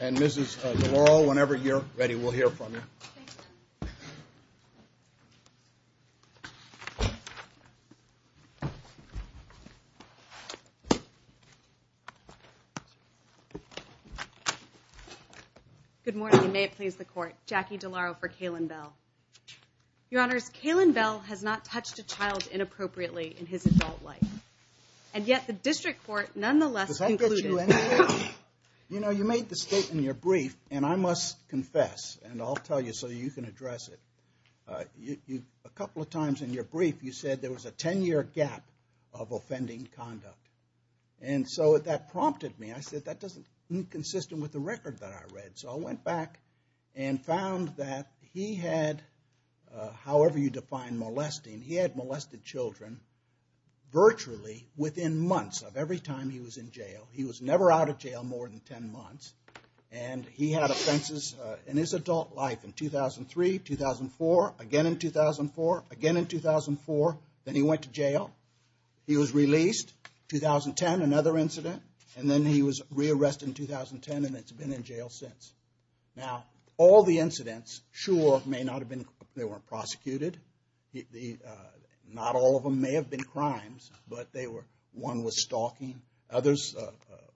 And Mrs. DeLaurel, whenever you're ready, we'll hear from you. Good morning. May it please the Court. Jackie DeLaurel for Kaylan Bell. Your Honors, Kaylan Bell has not touched a child inappropriately in his adult life, and yet the District Court nonetheless concluded. You know, you made the statement in your brief, and I must confess, and I'll tell you so you can address it. A couple of times in your brief, you said there was a 10-year gap of offending conduct. And so that prompted me. I said, that doesn't seem consistent with the record that I read. So I went back and found that he had, however you define molesting, he had molested children virtually within months of every time he was in jail. He was never out of jail more than 10 months. And he had offenses in his adult life in 2003, 2004, again in 2004, again in 2004. Then he went to jail. He was released. 2010, another incident. And then he was re-arrested in 2010, and it's been in jail since. Now, all the incidents, sure, may not have been, they weren't prosecuted. Not all of them may have been crimes, but they were, one was stalking. Others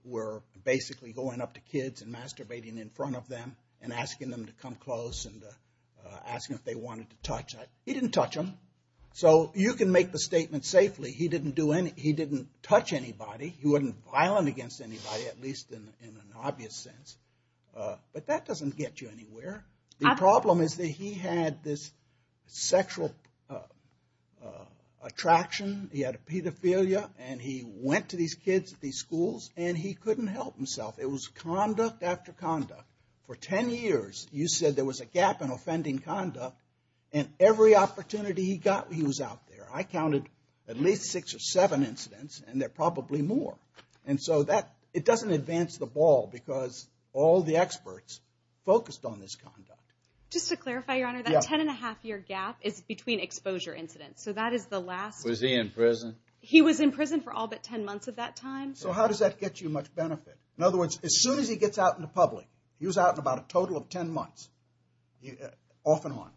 were basically going up to kids and masturbating in front of them and asking them to come close and asking if they wanted to touch. He didn't touch them. So you can make the statement safely, he didn't do any, he wasn't violent against anybody, at least in an obvious sense. But that doesn't get you anywhere. The problem is that he had this sexual attraction. He had a pedophilia, and he went to these kids at these schools, and he couldn't help himself. It was conduct after conduct. For 10 years, you said there was a gap in offending conduct, and every opportunity he got, he was out there. I counted at least six or seven incidents, and there are probably more. And so that, it doesn't advance the ball, because all the experts focused on this conduct. Just to clarify, Your Honor, that 10-and-a-half-year gap is between exposure incidents. So that is the last... Was he in prison? He was in prison for all but 10 months of that time. So how does that get you much benefit? In other words, as soon as he gets out in the public, he was out in about a total of 10 months, off and on.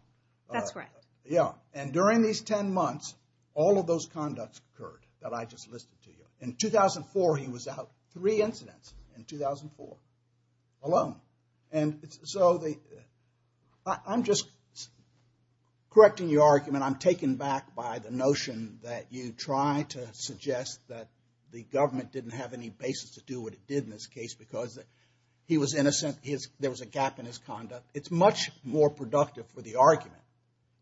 That's right. Yeah. And during these 10 months, all of those conducts occurred that I just listed to you. In 2004, he was out three incidents in 2004 alone. And so the... I'm just correcting your argument. I'm taken back by the notion that you try to suggest that the government didn't have any basis to do what it did in this case because he was innocent, there was a gap in his conduct. It's much more productive for the argument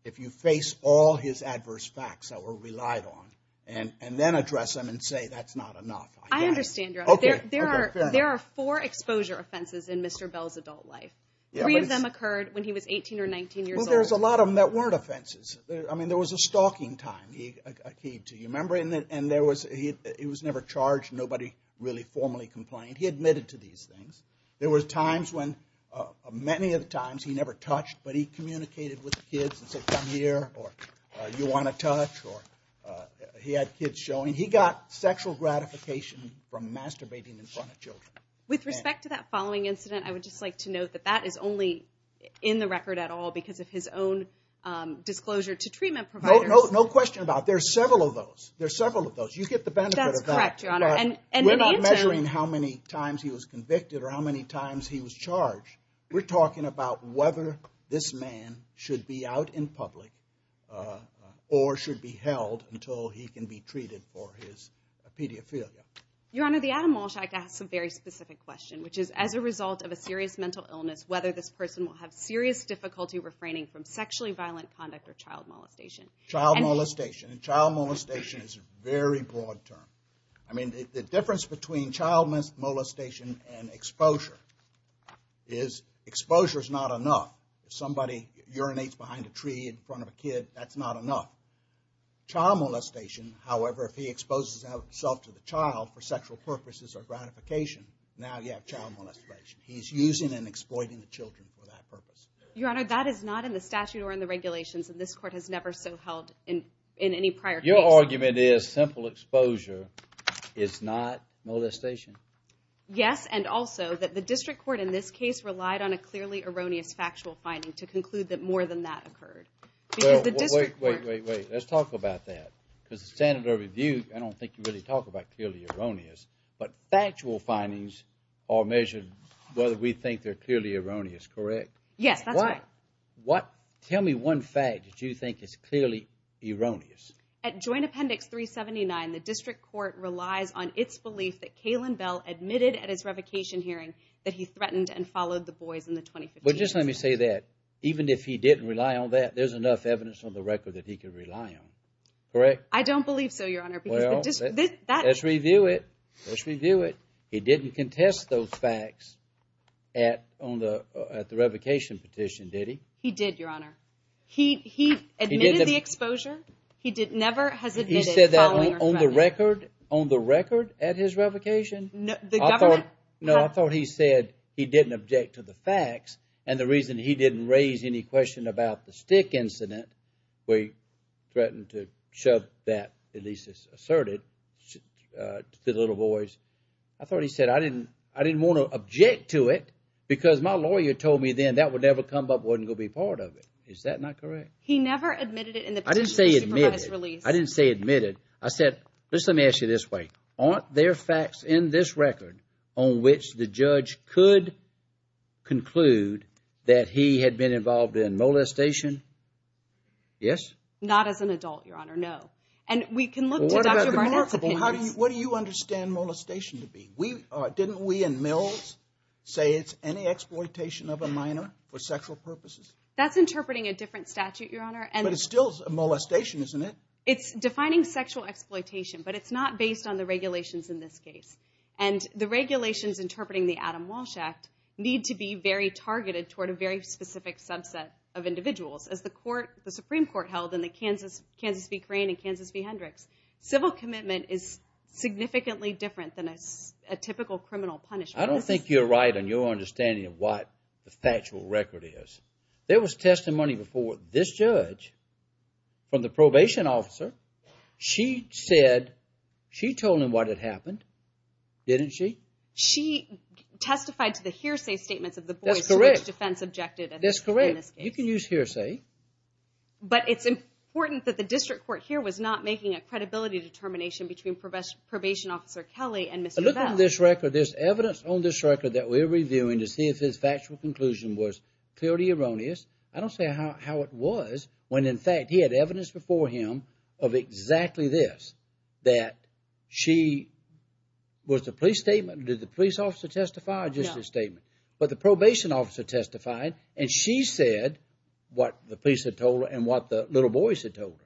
if you face all his adverse facts that were relied on and then address them and say, that's not enough. I understand, Your Honor. Okay. Okay. Fair enough. There are four exposure offenses in Mr. Bell's adult life. Three of them occurred when he was 18 or 19 years old. Well, there's a lot of them that weren't offenses. I mean, there was a stalking time he... Do you remember? And there was... He was never charged. Nobody really formally complained. He admitted to these things. There were times when... Many of the times, he never touched, but he communicated with the kids and said, come here, or you want to touch, or... He had kids showing. He got sexual gratification from masturbating in front of children. With respect to that following incident, I would just like to note that that is only in the record at all because of his own disclosure to treatment providers. No question about it. There's several of those. There's several of those. You get the benefit of that. That's correct, Your Honor. And in Anton... We're not measuring how many times he was convicted or how many times he was charged. We're talking about whether this man should be out in public or should be held until he can be treated for his pedophilia. Your Honor, the Adam Moleschak has a very specific question, which is, as a result of a serious mental illness, whether this person will have serious difficulty refraining from sexually violent conduct or child molestation. Child molestation. And child molestation is a very broad term. I mean, the difference between child molestation and exposure is exposure is not enough. If somebody urinates behind a tree in front of a kid, that's not enough. Child molestation, however, if he exposes himself to the child for sexual purposes or gratification, now you have child molestation. He's using and exploiting the children for that purpose. Your Honor, that is not in the statute or in the regulations, and this Court has never so held in any prior case. Your argument is simple exposure is not molestation? Yes, and also that the District Court in this case relied on a clearly erroneous factual finding to conclude that more than that occurred. Well, wait, wait, wait, wait. Let's talk about that. Because the standard of review, I don't think you really talk about clearly erroneous. But factual findings are measured whether we think they're clearly erroneous, correct? Yes, that's right. What, tell me one fact that you think is clearly erroneous. At Joint Appendix 379, the District Court relies on its belief that Kalen Bell admitted at his revocation hearing that he threatened and followed the boys in the 2015 case. But just let me say that, even if he didn't rely on that, there's enough evidence on the record that he could rely on, correct? I don't believe so, Your Honor. Well, let's review it. Let's review it. He didn't contest those facts at the revocation petition, did he? He did, Your Honor. He admitted the exposure. He never has admitted following or threatening. He said that on the record? On the record at his revocation? The government? No, I thought he said he didn't object to the facts. And the reason he didn't raise any question about the stick incident, where he threatened to shove that, at least it's asserted, to the little boys. I thought he said, I didn't want to object to it because my lawyer told me then that would never come up, wasn't going to be part of it. Is that not correct? He never admitted it in the petition. I didn't say admitted. He didn't provide his release. I didn't say admitted. I said, let me ask you this way. Aren't there facts in this record on which the judge could conclude that he had been involved in molestation? Yes? Not as an adult, Your Honor. No. And we can look to Dr. Barnett's opinions. What do you understand molestation to be? Didn't we in Mills say it's any exploitation of a minor for sexual purposes? That's interpreting a different statute, Your Honor. But it's still a molestation, isn't it? It's defining sexual exploitation, but it's not based on the regulations in this case. And the regulations interpreting the Adam Walsh Act need to be very targeted toward a very specific subset of individuals. As the Supreme Court held in the Kansas v. significantly different than a typical criminal punishment. I don't think you're right on your understanding of what the factual record is. There was testimony before this judge from the probation officer. She said, she told him what had happened, didn't she? She testified to the hearsay statements of the boys to which defense objected. That's correct. You can use hearsay. But it's important that the district court here was not making a credibility determination between probation officer Kelly and Mr. Best. Look at this record. There's evidence on this record that we're reviewing to see if his factual conclusion was clearly erroneous. I don't see how it was when, in fact, he had evidence before him of exactly this. That she, was the police statement, did the police officer testify or just his statement? No. But the probation officer testified and she said what the police had told her and what the little boys had told her.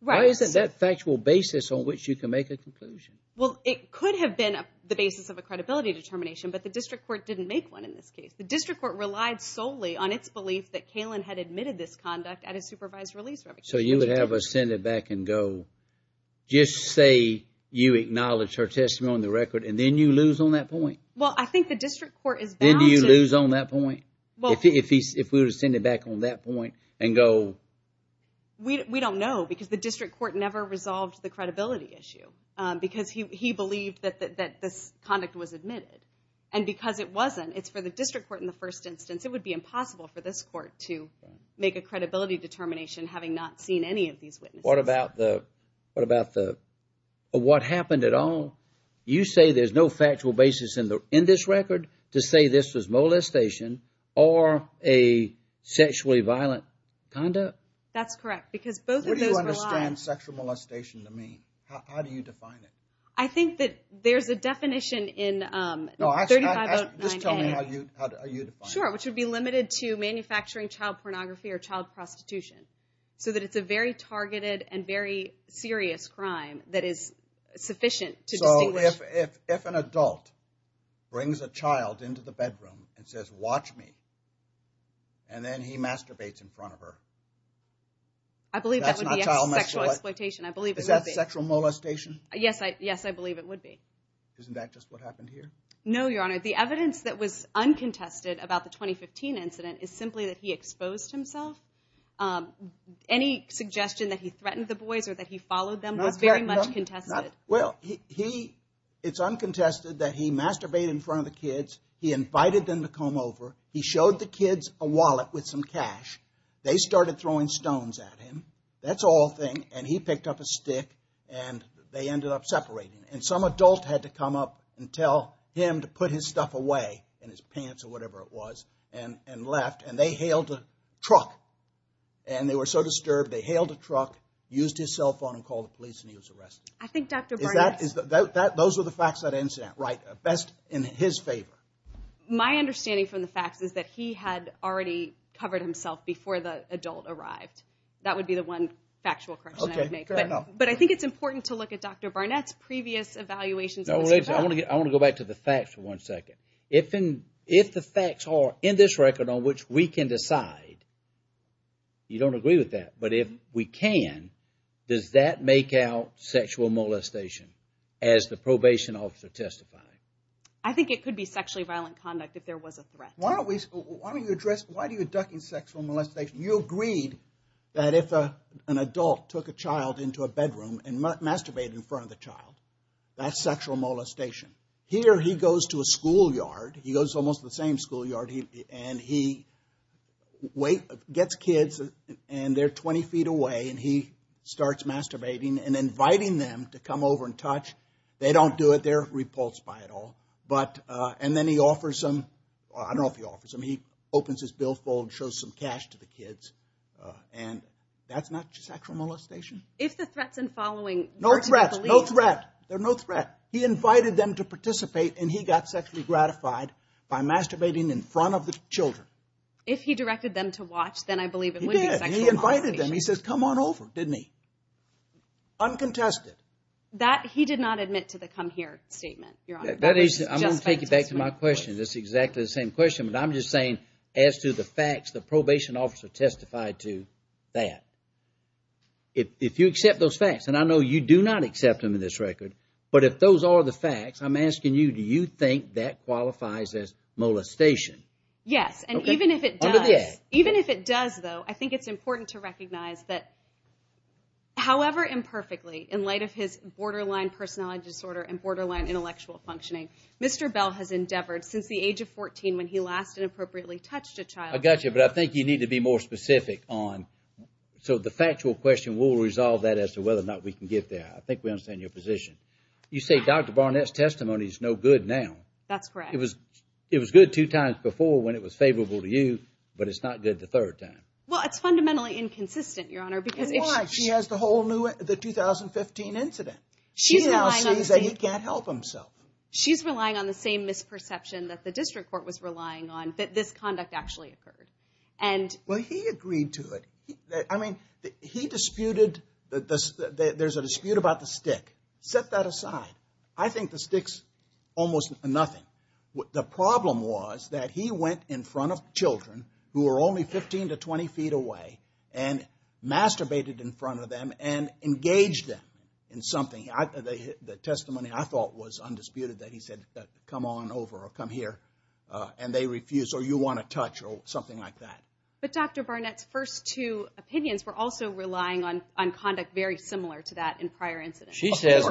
Why isn't that factual basis on which you can make a conclusion? Well, it could have been the basis of a credibility determination, but the district court didn't make one in this case. The district court relied solely on its belief that Kalen had admitted this conduct at a supervised release. So you would have us send it back and go, just say you acknowledge her testimony on the record and then you lose on that point? Well, I think the district court is bound to... Then do you lose on that point? Well... If we were to send it back on that point and go... We don't know because the district court never resolved the credibility issue because he believed that this conduct was admitted. And because it wasn't, it's for the district court in the first instance, it would be impossible for this court to make a credibility determination having not seen any of these witnesses. What about the... What happened at all? You say there's no factual basis in this record to say this was molestation or a sexually violent conduct? That's correct because both of those... What do you understand sexual molestation to mean? How do you define it? I think that there's a definition in... No, just tell me how you define it. Sure, which would be limited to manufacturing child pornography or child prostitution. So that it's a very targeted and very serious crime that is sufficient to distinguish... So if an adult brings a child into the bedroom and says, and then he masturbates in front of her... I believe that would be sexual exploitation. Is that sexual molestation? Yes, I believe it would be. Isn't that just what happened here? No, Your Honor. The evidence that was uncontested about the 2015 incident is simply that he exposed himself. Any suggestion that he threatened the boys or that he followed them was very much contested. Well, it's uncontested that he masturbated in front of the kids, he invited them to come over, he showed the kids a wallet with some cash, they started throwing stones at him. That's all a thing. And he picked up a stick, and they ended up separating. And some adult had to come up and tell him to put his stuff away, and his pants or whatever it was, and left. And they hailed a truck. And they were so disturbed, they hailed a truck, used his cell phone and called the police, and he was arrested. I think Dr. Barnett... Those were the facts of that incident. Right, best in his favor. My understanding from the facts is that he had already covered himself before the adult arrived. That would be the one factual correction I would make. Okay, fair enough. But I think it's important to look at Dr. Barnett's previous evaluations. No, wait a second. I want to go back to the facts for one second. If the facts are in this record on which we can decide, you don't agree with that, but if we can, does that make out sexual molestation, as the probation officer testified? I think it could be sexually violent conduct if there was a threat. Why don't you address... Why do you induct in sexual molestation? You agreed that if an adult took a child into a bedroom and masturbated in front of the child, that's sexual molestation. Here, he goes to a schoolyard. He goes to almost the same schoolyard, and he gets kids, and they're 20 feet away, and he starts masturbating and inviting them to come over and touch. They don't do it. They're repulsed by it all. And then he offers them. I don't know if he offers them. He opens his billfold, shows some cash to the kids, and that's not sexual molestation? If the threats and following were to be believed... No threats, no threat. They're no threat. He invited them to participate, and he got sexually gratified by masturbating in front of the children. If he directed them to watch, then I believe it would be sexual molestation. He invited them. He says, come on over, didn't he? Uncontested. He did not admit to the come here statement, Your Honor. I'm going to take you back to my question. It's exactly the same question, but I'm just saying as to the facts, the probation officer testified to that. If you accept those facts, and I know you do not accept them in this record, but if those are the facts, I'm asking you, do you think that qualifies as molestation? Yes, and even if it does, though, I think it's important to recognize that, however imperfectly, in light of his borderline personality disorder and borderline intellectual functioning, Mr. Bell has endeavored since the age of 14 when he last inappropriately touched a child. I got you, but I think you need to be more specific on... So the factual question, we'll resolve that as to whether or not we can get there. I think we understand your position. You say Dr. Barnett's testimony is no good now. That's correct. It was good two times before when it was favorable to you, but it's not good the third time. Well, it's fundamentally inconsistent, Your Honor, because... Why? She has the 2015 incident. She now sees that he can't help himself. She's relying on the same misperception that the district court was relying on that this conduct actually occurred. Well, he agreed to it. I mean, he disputed... There's a dispute about the stick. Set that aside. I think the stick's almost nothing. The problem was that he went in front of children who were only 15 to 20 feet away and masturbated in front of them and engaged them in something. The testimony, I thought, was undisputed, that he said, come on over, or come here, and they refused, or you want a touch, or something like that. But Dr. Barnett's first two opinions were also relying on conduct very similar to that in prior incidents. She says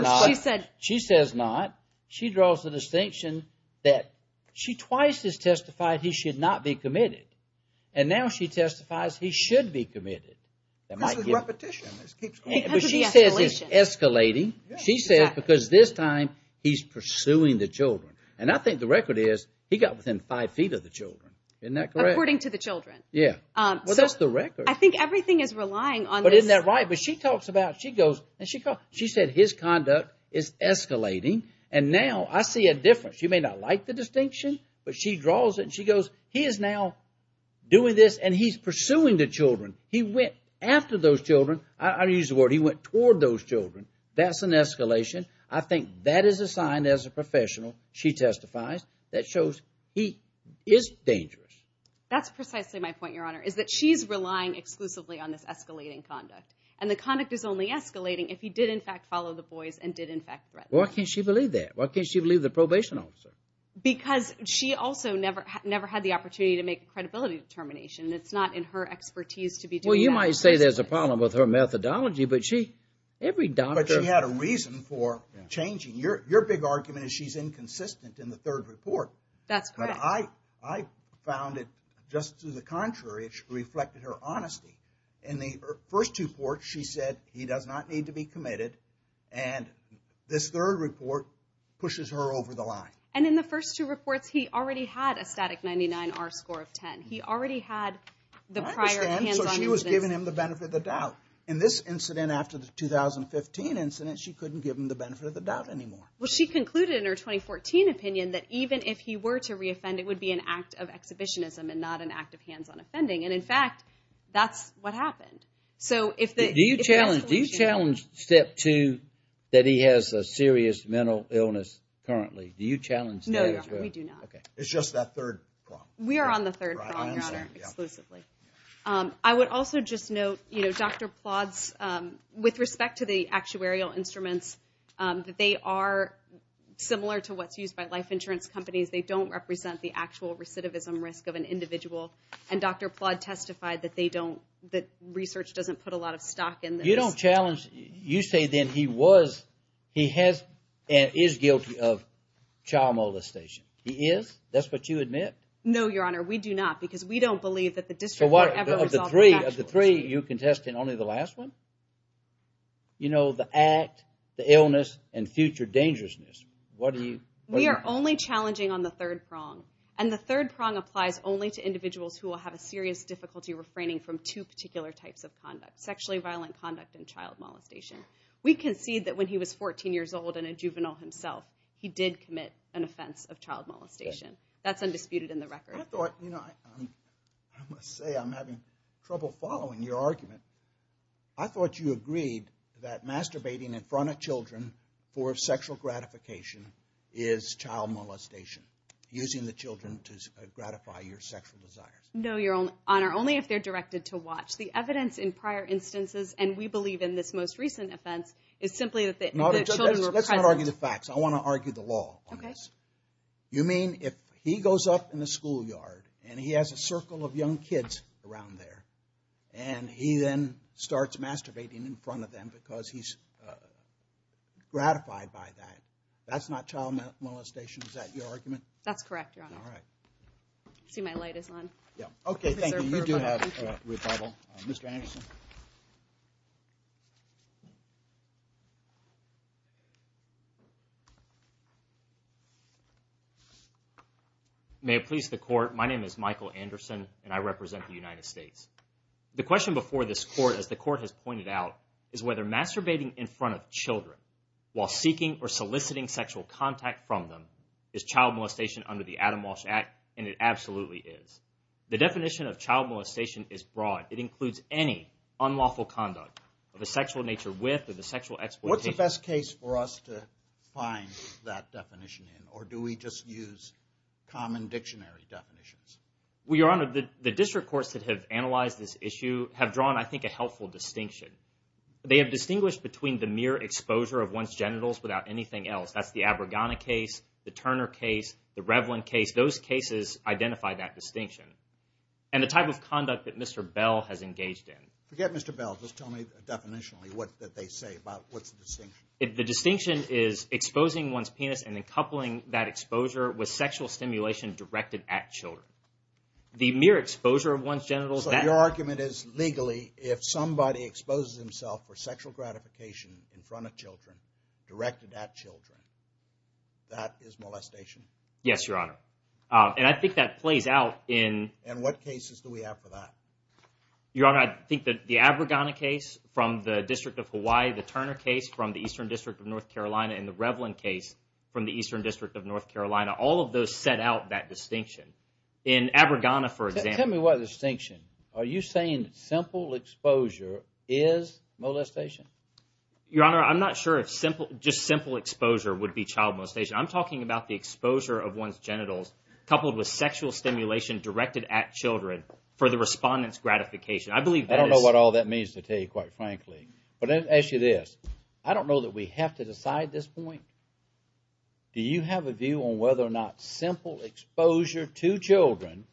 not. She draws the distinction that she twice has testified he should not be committed. And now she testifies he should be committed. This is repetition. She says it's escalating. She says because this time he's pursuing the children. And I think the record is he got within five feet of the children. According to the children. Well, that's the record. I think everything is relying on this. But isn't that right? She said his conduct is escalating. And now I see a difference. She may not like the distinction, but she draws it, and she goes, he is now doing this, and he's pursuing the children. He went after those children. I don't use the word. He went toward those children. That's an escalation. I think that is a sign, as a professional, she testifies, that shows he is dangerous. That's precisely my point, Your Honor, is that she's relying exclusively on this escalating conduct. And the conduct is only escalating if he did, in fact, follow the boys and did, in fact, threaten them. Why can't she believe that? Why can't she believe the probation officer? Because she also never had the opportunity to make a credibility determination. It's not in her expertise to be doing that. Well, you might say there's a problem with her methodology, but she, every doctor... But she had a reason for changing. Your big argument is she's inconsistent in the third report. That's correct. I found it just to the contrary. It reflected her honesty. In the first report, she said he does not need to be committed. And this third report pushes her over the line. And in the first two reports, he already had a static 99R score of 10. He already had the prior hands-on... I understand, so she was giving him the benefit of the doubt. In this incident, after the 2015 incident, she couldn't give him the benefit of the doubt anymore. Well, she concluded in her 2014 opinion that even if he were to reoffend, it would be an act of exhibitionism and not an act of hands-on offending. And, in fact, that's what happened. So, if the... Do you challenge, do you challenge step two, that he has a serious mental illness currently? Do you challenge that as well? No, we do not. Okay. It's just that third problem. We are on the third problem, Your Honor. I understand. Exclusively. I would also just note, you know, Dr. Plodd's... With respect to the actuarial instruments, they are similar to what's used by life insurance companies. They don't represent the actual recidivism risk of an individual. And Dr. Plodd testified that they don't... That research doesn't put a lot of stock in this. So, you don't challenge... You say, then, he was... He has and is guilty of child molestation. He is? That's what you admit? No, Your Honor, we do not because we don't believe that the district... So, of the three, you're contesting only the last one? You know, the act, the illness, and future dangerousness. What do you... We are only challenging on the third prong. And the third prong applies only to individuals who will have a serious difficulty refraining from two particular types of conduct, sexually violent conduct and child molestation. We concede that when he was 14 years old and a juvenile himself, he did commit an offense of child molestation. That's undisputed in the record. I thought, you know, I must say I'm having trouble following your argument. I thought you agreed that masturbating in front of children for sexual gratification is child molestation, using the children to gratify your sexual desires. No, Your Honor, only if they're directed to watch. The evidence in prior instances, and we believe in this most recent offense, is simply that the children were present... Let's not argue the facts. I want to argue the law on this. You mean if he goes up in the schoolyard and he has a circle of young kids around there and he then starts masturbating in front of them because he's gratified by that, that's not child molestation? Is that your argument? That's correct, Your Honor. All right. See, my light is on. Okay, thank you. You do have rebuttal. Mr. Anderson? May it please the Court, my name is Michael Anderson and I represent the United States. The question before this Court, as the Court has pointed out, is whether masturbating in front of children while seeking or soliciting sexual contact from them is child molestation under the Adam Walsh Act, and it absolutely is. The definition of child molestation is broad. It includes any unlawful conduct of a sexual nature with or the sexual exploitation... What's the best case for us to find that definition in, or do we just use common dictionary definitions? Well, Your Honor, the district courts that have analyzed this issue have drawn, I think, a helpful distinction. They have distinguished between the mere exposure of one's genitals without anything else. That's the Abragana case, the Turner case, the Revlin case. Those cases identify that distinction. And the type of conduct that Mr. Bell has engaged in... Forget Mr. Bell. Just tell me definitionally what they say about what's the distinction. The distinction is exposing one's penis and then coupling that exposure with sexual stimulation directed at children. The mere exposure of one's genitals... So your argument is, legally, if somebody exposes himself for sexual gratification in front of children, directed at children, that is molestation? Yes, Your Honor. And I think that plays out in... And what cases do we have for that? Your Honor, I think that the Abragana case from the District of Hawaii, the Turner case from the Eastern District of North Carolina, and the Revlin case from the Eastern District of North Carolina, all of those set out that distinction. In Abragana, for example... Tell me what distinction. Are you saying simple exposure is molestation? Your Honor, I'm not sure if simple... I'm talking about the exposure of one's genitals coupled with sexual stimulation directed at children for the respondent's gratification. I don't know what all that means to tell you, quite frankly. But let me ask you this. I don't know that we have to decide this point. Do you have a view on whether or not simple exposure to children,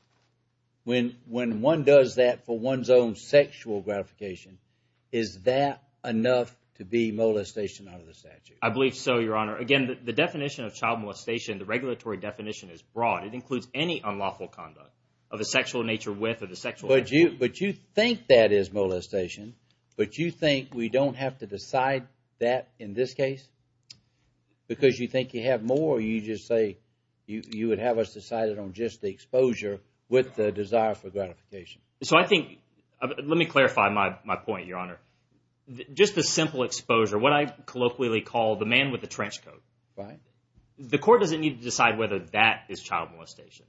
when one does that for one's own sexual gratification, is that enough to be molestation under the statute? I believe so, Your Honor. Again, the definition of child molestation, the regulatory definition is broad. It includes any unlawful conduct of the sexual nature with or the sexual... But you think that is molestation, but you think we don't have to decide that in this case? Because you think you have more, or you just say you would have us decided on just the exposure with the desire for gratification? So I think... Let me clarify my point, Your Honor. Just the simple exposure, what I colloquially call the man with the trench coat. Right. The court doesn't need to decide whether that is child molestation.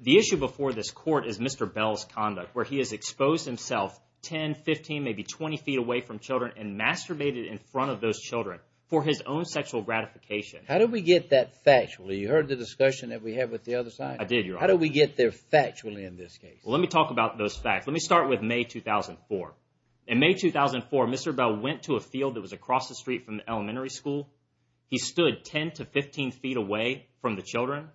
The issue before this court is Mr. Bell's conduct, where he has exposed himself 10, 15, maybe 20 feet away from children and masturbated in front of those children for his own sexual gratification. How did we get that factually? You heard the discussion that we had with the other side? I did, Your Honor. How did we get there factually in this case? Let me start with May 2004. In May 2004, Mr. Bell went to a field that was across the street from the elementary school. He stood 10 to 15 feet away from the children,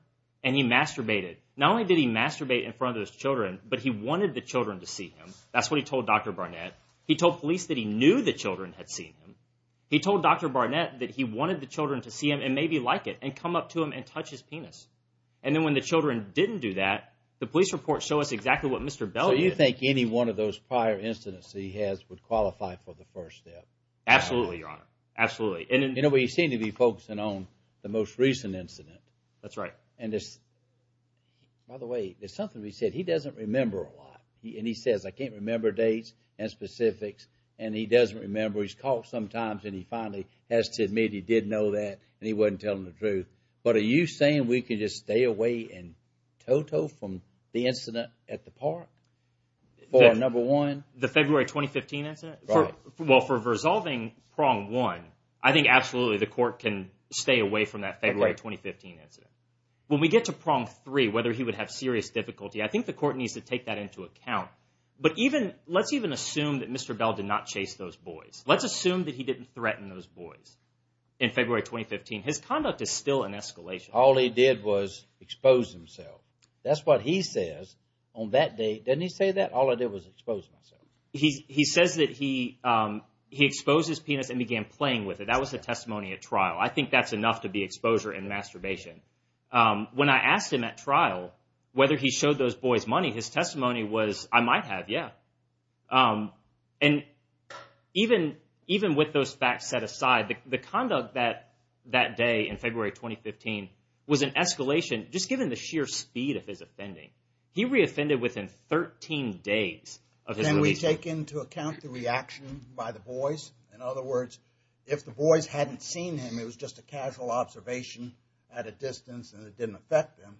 and he masturbated. Not only did he masturbate in front of those children, but he wanted the children to see him. That's what he told Dr. Barnett. He told police that he knew the children had seen him. He told Dr. Barnett that he wanted the children to see him and maybe like it, and come up to him and touch his penis. And then when the children didn't do that, the police reports show us exactly what Mr. Bell did. So you think any one of those prior incidents that he has would qualify for the first step? Absolutely, Your Honor. Absolutely. You know, we seem to be focusing on the most recent incident. That's right. By the way, there's something we said. He doesn't remember a lot, and he says, I can't remember dates and specifics, and he doesn't remember. He's caught sometimes, and he finally has to admit he did know that, and he wasn't telling the truth. But are you saying we can just stay away in total from the incident at the park for a number one? The February 2015 incident? Well, for resolving prong one, I think absolutely the court can stay away from that February 2015 incident. When we get to prong three, whether he would have serious difficulty, I think the court needs to take that into account. But let's even assume that Mr. Bell did not chase those boys. Let's assume that he didn't threaten those boys in February 2015. His conduct is still in escalation. All he did was expose himself. That's what he says on that date. Doesn't he say that? All I did was expose myself. He says that he exposed his penis and began playing with it. That was the testimony at trial. I think that's enough to be exposure and masturbation. When I asked him at trial whether he showed those boys money, his testimony was, I might have, yeah. And even with those facts set aside, the conduct that day in February 2015 was in escalation just given the sheer speed of his offending. He reoffended within 13 days of his release. Can we take into account the reaction by the boys? In other words, if the boys hadn't seen him, it was just a casual observation at a distance and it didn't affect them.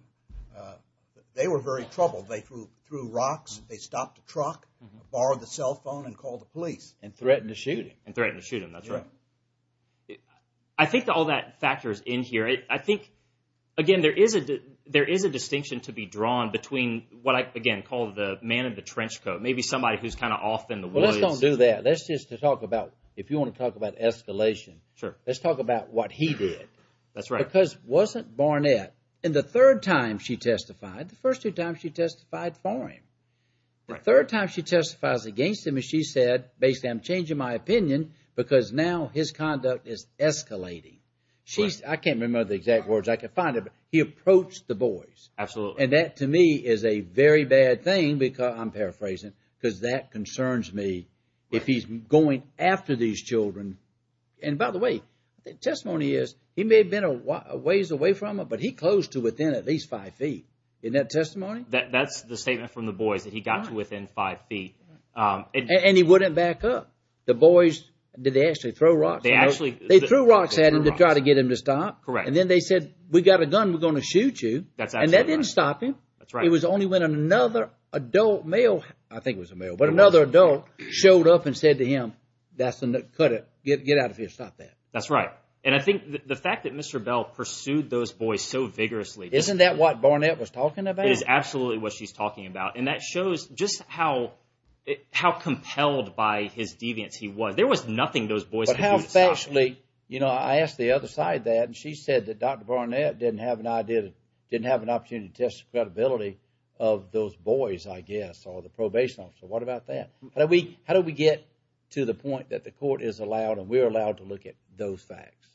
They were very troubled. They threw rocks, they stopped a truck, borrowed the cell phone and called the police. And threatened to shoot him. And threatened to shoot him, that's right. I think all that factors in here. I think, again, there is a distinction to be drawn between what I, again, call the man in the trench coat. Maybe somebody who's kind of off in the woods. Well, let's don't do that. Let's just talk about, if you want to talk about escalation. Sure. Let's talk about what he did. That's right. Because it wasn't Barnett. And the third time she testified, the first two times she testified for him. The third time she testifies against him, and she said, basically, I'm changing my opinion because now his conduct is escalating. I can't remember the exact words. I can find them. He approached the boys. Absolutely. And that, to me, is a very bad thing because, I'm paraphrasing, because that concerns me. If he's going after these children. And, by the way, the testimony is, he may have been a ways away from her, but he closed to within at least five feet. Isn't that testimony? That's the statement from the boys, that he got to within five feet. And he wouldn't back up. The boys, did they actually throw rocks at him? They threw rocks at him to try to get him to stop. Correct. And then they said, we got a gun, we're going to shoot you. And that didn't stop him. That's right. It was only when another adult male, I think it was a male, but another adult showed up and said to him, that's enough, cut it, get out of here, stop that. That's right. And I think the fact that Mr. Bell pursued those boys so vigorously. Isn't that what Barnett was talking about? It is absolutely what she's talking about. And that shows just how compelled by his deviance he was. There was nothing those boys could do to stop him. You know, I asked the other side that, and she said that Dr. Barnett didn't have an idea, didn't have an opportunity to test the credibility of those boys, I guess, or the probation officer. What about that? How do we get to the point that the court is allowed and we're allowed to look at those facts?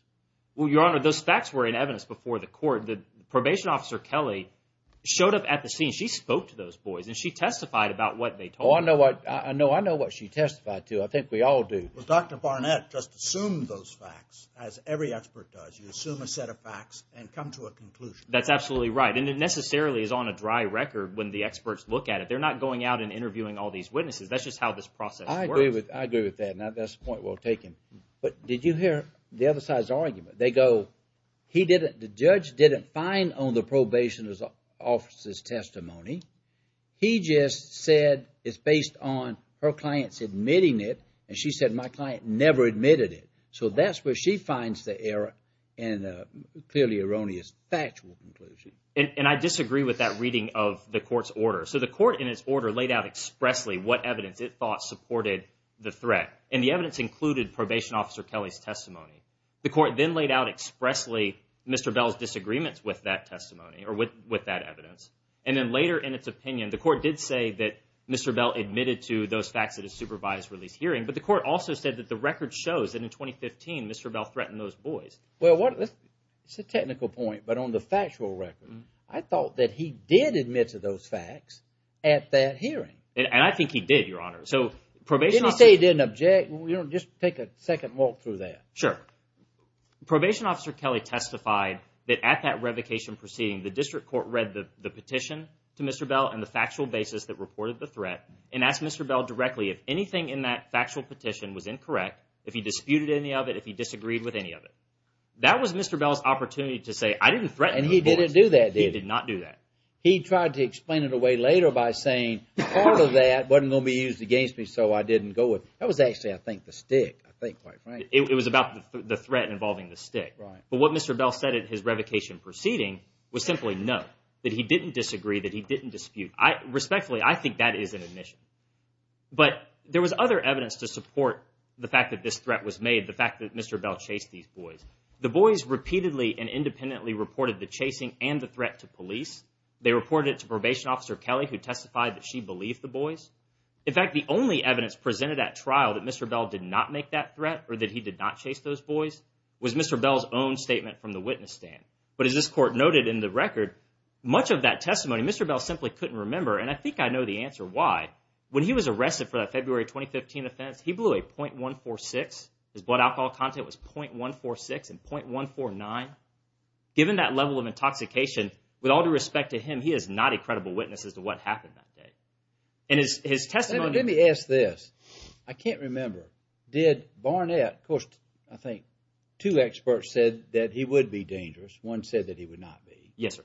Well, Your Honor, those facts were in evidence before the court. The probation officer, Kelly, showed up at the scene. She spoke to those boys and she testified about what they told her. Oh, I know what she testified to. I think we all do. Well, Dr. Barnett just assumed those facts, as every expert does. You assume a set of facts and come to a conclusion. That's absolutely right. And it necessarily is on a dry record when the experts look at it. They're not going out and interviewing all these witnesses. That's just how this process works. I agree with that, and that's a point well taken. But did you hear the other side's argument? They go, he didn't, the judge didn't find on the probation officer's testimony. He just said it's based on her client's admitting it, and she said my client never admitted it. So that's where she finds the error and the clearly erroneous factual conclusion. And I disagree with that reading of the court's order. So the court in its order laid out expressly what evidence it thought supported the threat, and the evidence included probation officer Kelly's testimony. The court then laid out expressly Mr. Bell's disagreements with that testimony, or with that evidence, and then later in its opinion, the court did say that Mr. Bell admitted to those facts at a supervised release hearing, but the court also said that the record shows that in 2015 Mr. Bell threatened those boys. Well, it's a technical point, but on the factual record, I thought that he did admit to those facts at that hearing. And I think he did, Your Honor. Didn't he say he didn't object? Just take a second and walk through that. Sure. Probation officer Kelly testified that at that revocation proceeding, the district court read the petition to Mr. Bell and the factual basis that reported the threat and asked Mr. Bell directly if anything in that factual petition was incorrect, if he disputed any of it, if he disagreed with any of it. That was Mr. Bell's opportunity to say I didn't threaten those boys. And he didn't do that, did he? He did not do that. He tried to explain it away later by saying part of that wasn't going to be used against me, so I didn't go with it. That was actually, I think, the stick, I think, quite frankly. It was about the threat involving the stick. Right. But what Mr. Bell said at his revocation proceeding was simply no, that he didn't disagree, that he didn't dispute. Respectfully, I think that is an admission. But there was other evidence to support the fact that this threat was made, the fact that Mr. Bell chased these boys. The boys repeatedly and independently reported the chasing and the threat to police. They reported it to Probation Officer Kelly, who testified that she believed the boys. In fact, the only evidence presented at trial that Mr. Bell did not make that threat or that he did not chase those boys was Mr. Bell's own statement from the witness stand. But as this court noted in the record, much of that testimony Mr. Bell simply couldn't remember, and I think I know the answer why. When he was arrested for that February 2015 offense, he blew a .146. His blood alcohol content was .146 and .149. Given that level of intoxication, with all due respect to him, he is not a credible witness as to what happened that day. And his testimony— Let me ask this. I can't remember. Did Barnett—of course, I think two experts said that he would be dangerous. One said that he would not be. Yes, sir.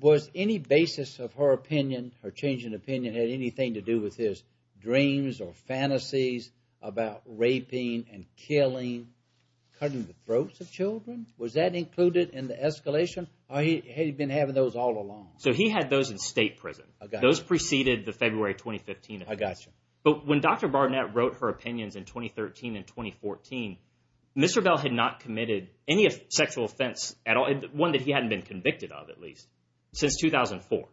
Was any basis of her opinion, her changing opinion, had anything to do with his dreams or fantasies about raping and killing, cutting the throats of children? Was that included in the escalation, or had he been having those all along? So he had those in state prison. Those preceded the February 2015 offense. I got you. But when Dr. Barnett wrote her opinions in 2013 and 2014, Ms. Rebell had not committed any sexual offense at all, one that he hadn't been convicted of, at least, since 2004.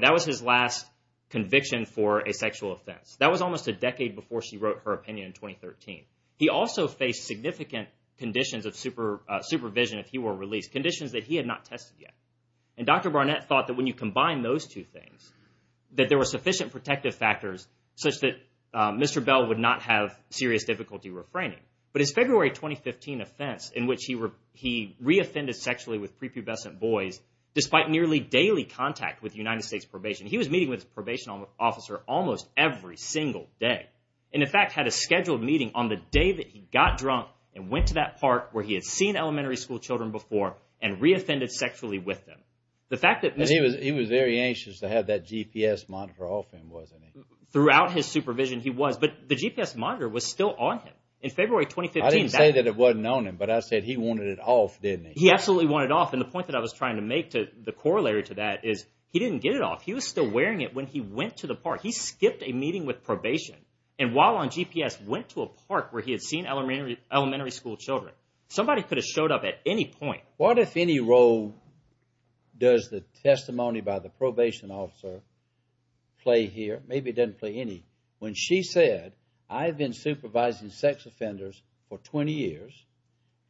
That was his last conviction for a sexual offense. That was almost a decade before she wrote her opinion in 2013. He also faced significant conditions of supervision if he were released, conditions that he had not tested yet. And Dr. Barnett thought that when you combine those two things, that there were sufficient protective factors, such that Mr. Bell would not have serious difficulty refraining. But his February 2015 offense, in which he reoffended sexually with prepubescent boys, despite nearly daily contact with United States probation, he was meeting with his probation officer almost every single day, and, in fact, had a scheduled meeting on the day that he got drunk and went to that park where he had seen elementary school children before and reoffended sexually with them. He was very anxious to have that GPS monitor off him, wasn't he? Throughout his supervision, he was. But the GPS monitor was still on him. In February 2015... I didn't say that it wasn't on him, but I said he wanted it off, didn't he? He absolutely wanted it off. And the point that I was trying to make, the corollary to that, is he didn't get it off. He was still wearing it when he went to the park. He skipped a meeting with probation, and while on GPS went to a park where he had seen elementary school children. Somebody could have showed up at any point. What, if any, role does the testimony by the probation officer play here? Maybe it doesn't play any. When she said, I've been supervising sex offenders for 20 years,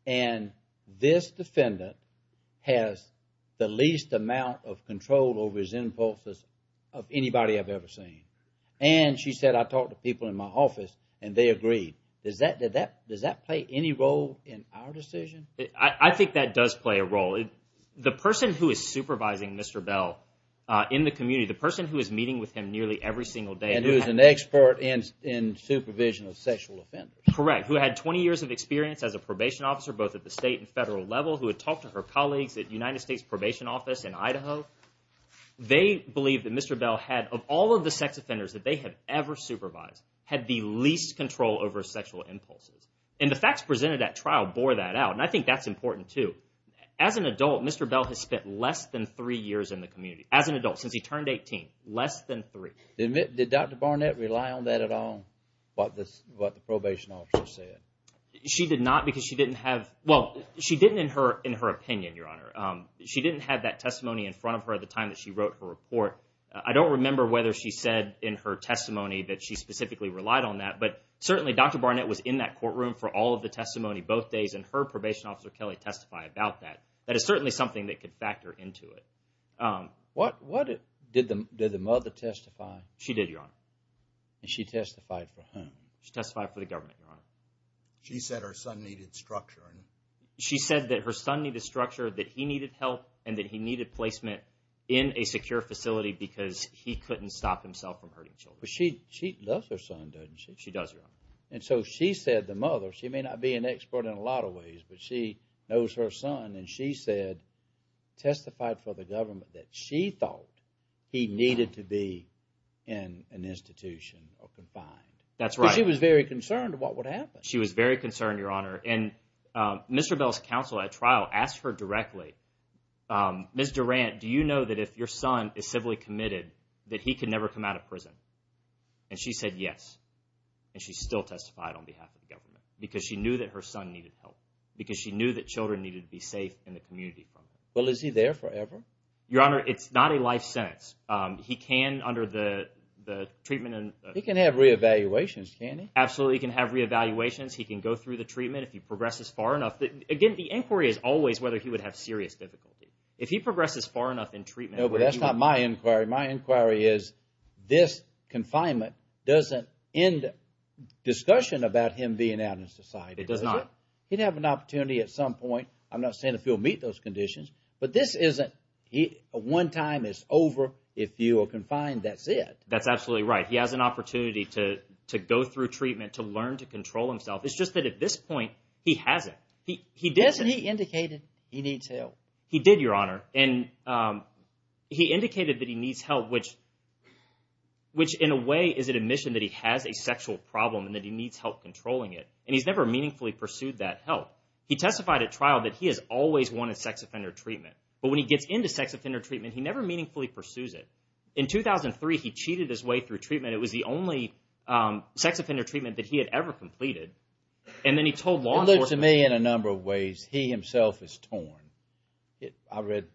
and this defendant has the least amount of control over his impulses of anybody I've ever seen. And she said, I talked to people in my office, and they agreed. Does that play any role in our decision? I think that does play a role. The person who is supervising Mr. Bell in the community, the person who is meeting with him nearly every single day... And who is an expert in supervision of sexual offenders. Correct. Who had 20 years of experience as a probation officer, both at the state and federal level, who had talked to her colleagues at United States Probation Office in Idaho. They believed that Mr. Bell had, of all of the sex offenders that they had ever supervised, had the least control over sexual impulses. And the facts presented at trial bore that out. And I think that's important too. As an adult, Mr. Bell has spent less than three years in the community. As an adult, since he turned 18. Less than three. Did Dr. Barnett rely on that at all? What the probation officer said? She did not because she didn't have... Well, she didn't in her opinion, Your Honor. She didn't have that testimony in front of her at the time that she wrote her report. I don't remember whether she said in her testimony that she specifically relied on that. But certainly, Dr. Barnett was in that courtroom for all of the testimony both days. And her probation officer, Kelly, testified about that. That is certainly something that could factor into it. Did the mother testify? She did, Your Honor. And she testified for whom? She testified for the government, Your Honor. She said her son needed structure. She said that her son needed structure, that he needed help, and that he needed placement in a secure facility because he couldn't stop himself from hurting children. But she loves her son, doesn't she? She does, Your Honor. And so she said the mother, she may not be an expert in a lot of ways, but she knows her son, and she said, testified for the government that she thought he needed to be in an institution or confined. That's right. Because she was very concerned of what would happen. She was very concerned, Your Honor. And Mr. Bell's counsel at trial asked her directly, Ms. Durant, do you know that if your son is civilly committed that he can never come out of prison? And she said yes. And she still testified on behalf of the government because she knew that her son needed help, because she knew that children needed to be safe in the community. Well, is he there forever? Your Honor, it's not a life sentence. He can, under the treatment and... He can have re-evaluations, can't he? Absolutely, he can have re-evaluations. He can go through the treatment if he progresses far enough. Again, the inquiry is always whether he would have serious difficulty. If he progresses far enough in treatment... That's not my inquiry. My inquiry is this confinement doesn't end discussion about him being out in society, does it? It does not. He'd have an opportunity at some point. I'm not saying if he'll meet those conditions. But this isn't one time, it's over. If you are confined, that's it. That's absolutely right. He has an opportunity to go through treatment, to learn to control himself. It's just that at this point, he hasn't. Hasn't he indicated he needs help? He did, Your Honor. And he indicated that he needs help, which in a way is an admission that he has a sexual problem and that he needs help controlling it. And he's never meaningfully pursued that help. He testified at trial that he has always wanted sex offender treatment. But when he gets into sex offender treatment, he never meaningfully pursues it. In 2003, he cheated his way through treatment. It was the only sex offender treatment that he had ever completed. And then he told law enforcement... It looks to me in a number of ways. He himself is torn. I read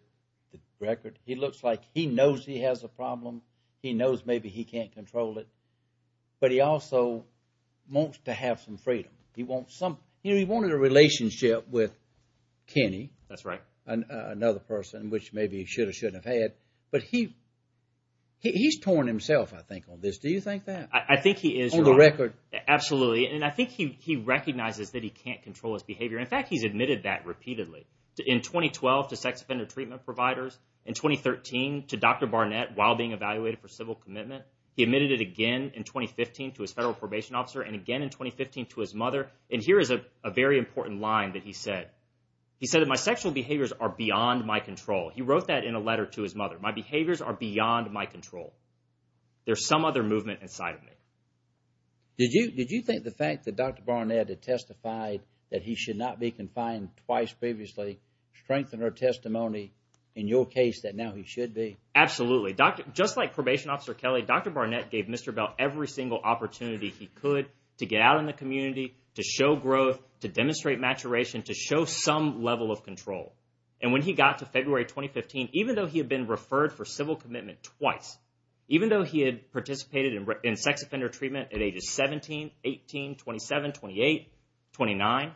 the record. He looks like he knows he has a problem. He knows maybe he can't control it. But he also wants to have some freedom. He wants some... He wanted a relationship with Kenny. That's right. Another person, which maybe he should or shouldn't have had. But he's torn himself, I think, on this. Do you think that? I think he is, Your Honor. On the record? Absolutely. And I think he recognizes that he can't control his behavior. In fact, he's admitted that repeatedly. In 2012 to sex offender treatment providers. In 2013 to Dr. Barnett while being evaluated for civil commitment. He admitted it again in 2015 to his federal probation officer. And again in 2015 to his mother. And here is a very important line that he said. He said that my sexual behaviors are beyond my control. He wrote that in a letter to his mother. My behaviors are beyond my control. There's some other movement inside of me. Did you think the fact that Dr. Barnett had testified that he should not be confined twice previously strengthened her testimony in your case that now he should be? Absolutely. Just like Probation Officer Kelly, Dr. Barnett gave Mr. Bell every single opportunity he could to get out in the community, to show growth, to demonstrate maturation, to show some level of control. And when he got to February 2015, even though he had been referred for civil commitment twice, even though he had participated in sex offender treatment at ages 17, 18, 27, 28, 29,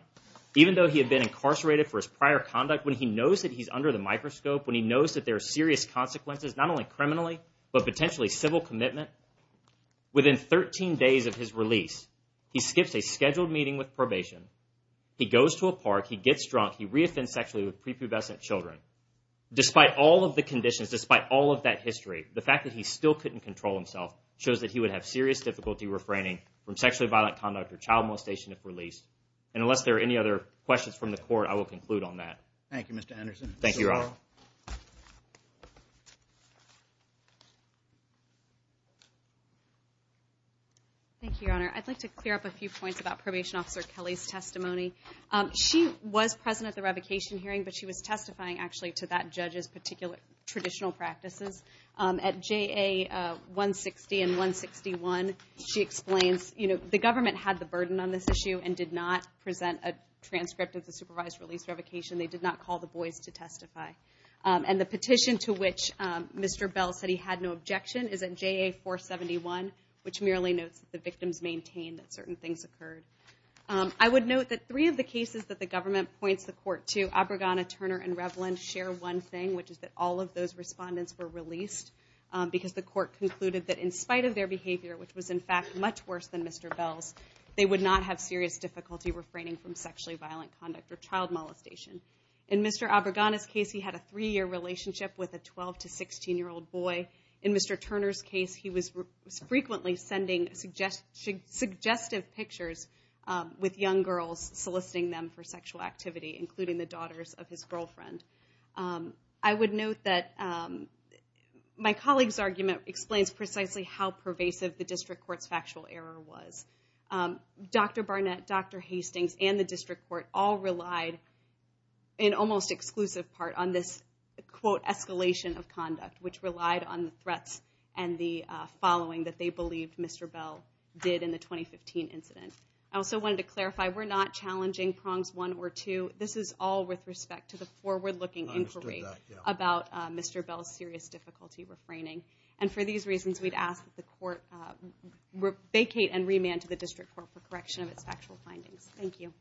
even though he had been incarcerated for his prior conduct, when he knows that he's under the microscope, when he knows that there are serious consequences, not only criminally but potentially civil commitment, within 13 days of his release, he skips a scheduled meeting with probation, he goes to a park, he gets drunk, he re-offends sexually with prepubescent children. Despite all of the conditions, despite all of that history, the fact that he still couldn't control himself shows that he would have serious difficulty refraining from sexually violent conduct or child molestation if released. And unless there are any other questions from the court, I will conclude on that. Thank you, Mr. Anderson. Thank you, Your Honor. Thank you, Your Honor. I'd like to clear up a few points about Probation Officer Kelly's testimony. She was present at the revocation hearing, but she was testifying actually to that judge's particular traditional practices. At JA-160 and 161, she explains, you know, the government had the burden on this issue and did not present a transcript of the supervised release revocation. They did not call the boys to testify. And the petition to which Mr. Bell said he had no objection is at JA-471, which merely notes that the victims maintained that certain things occurred. I would note that three of the cases that the government points the court to, Abregana, Turner, and Revlin, share one thing, which is that all of those respondents were released because the court concluded that in spite of their behavior, which was in fact much worse than Mr. Bell's, they would not have serious difficulty refraining from sexually violent conduct or child molestation. In Mr. Abregana's case, he had a three-year relationship with a 12- to 16-year-old boy. In Mr. Turner's case, he was frequently sending suggestive pictures with young girls soliciting them for sexual activity, including the daughters of his girlfriend. I would note that my colleague's argument explains precisely how pervasive the district court's factual error was. Dr. Barnett, Dr. Hastings, and the district court all relied, in almost exclusive part, on this, quote, escalation of conduct, which relied on the threats and the following that they believed Mr. Bell did in the 2015 incident. I also wanted to clarify, we're not challenging prongs one or two. This is all with respect to the forward-looking inquiry about Mr. Bell's serious difficulty refraining. And for these reasons, we'd ask that the court vacate and remand to the district court for correction of its factual findings. Thank you.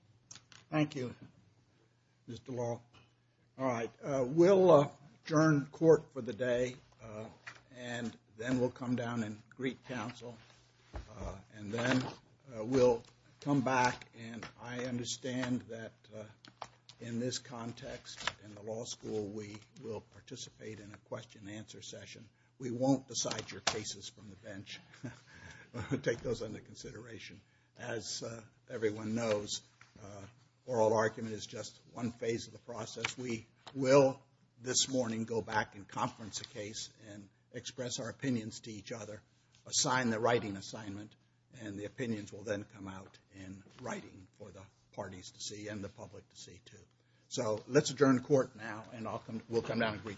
Thank you, Mr. Law. All right, we'll adjourn court for the day, and then we'll come down and greet counsel. And then we'll come back, and I understand that in this context, in the law school, we will participate in a question-and-answer session. We won't decide your cases from the bench. We'll take those under consideration. As everyone knows, oral argument is just one phase of the process. We will, this morning, go back and conference a case and express our opinions to each other, assign the writing assignment, and the opinions will then come out in writing for the parties to see and the public to see, too. So let's adjourn court now, and we'll come down and greet counsel.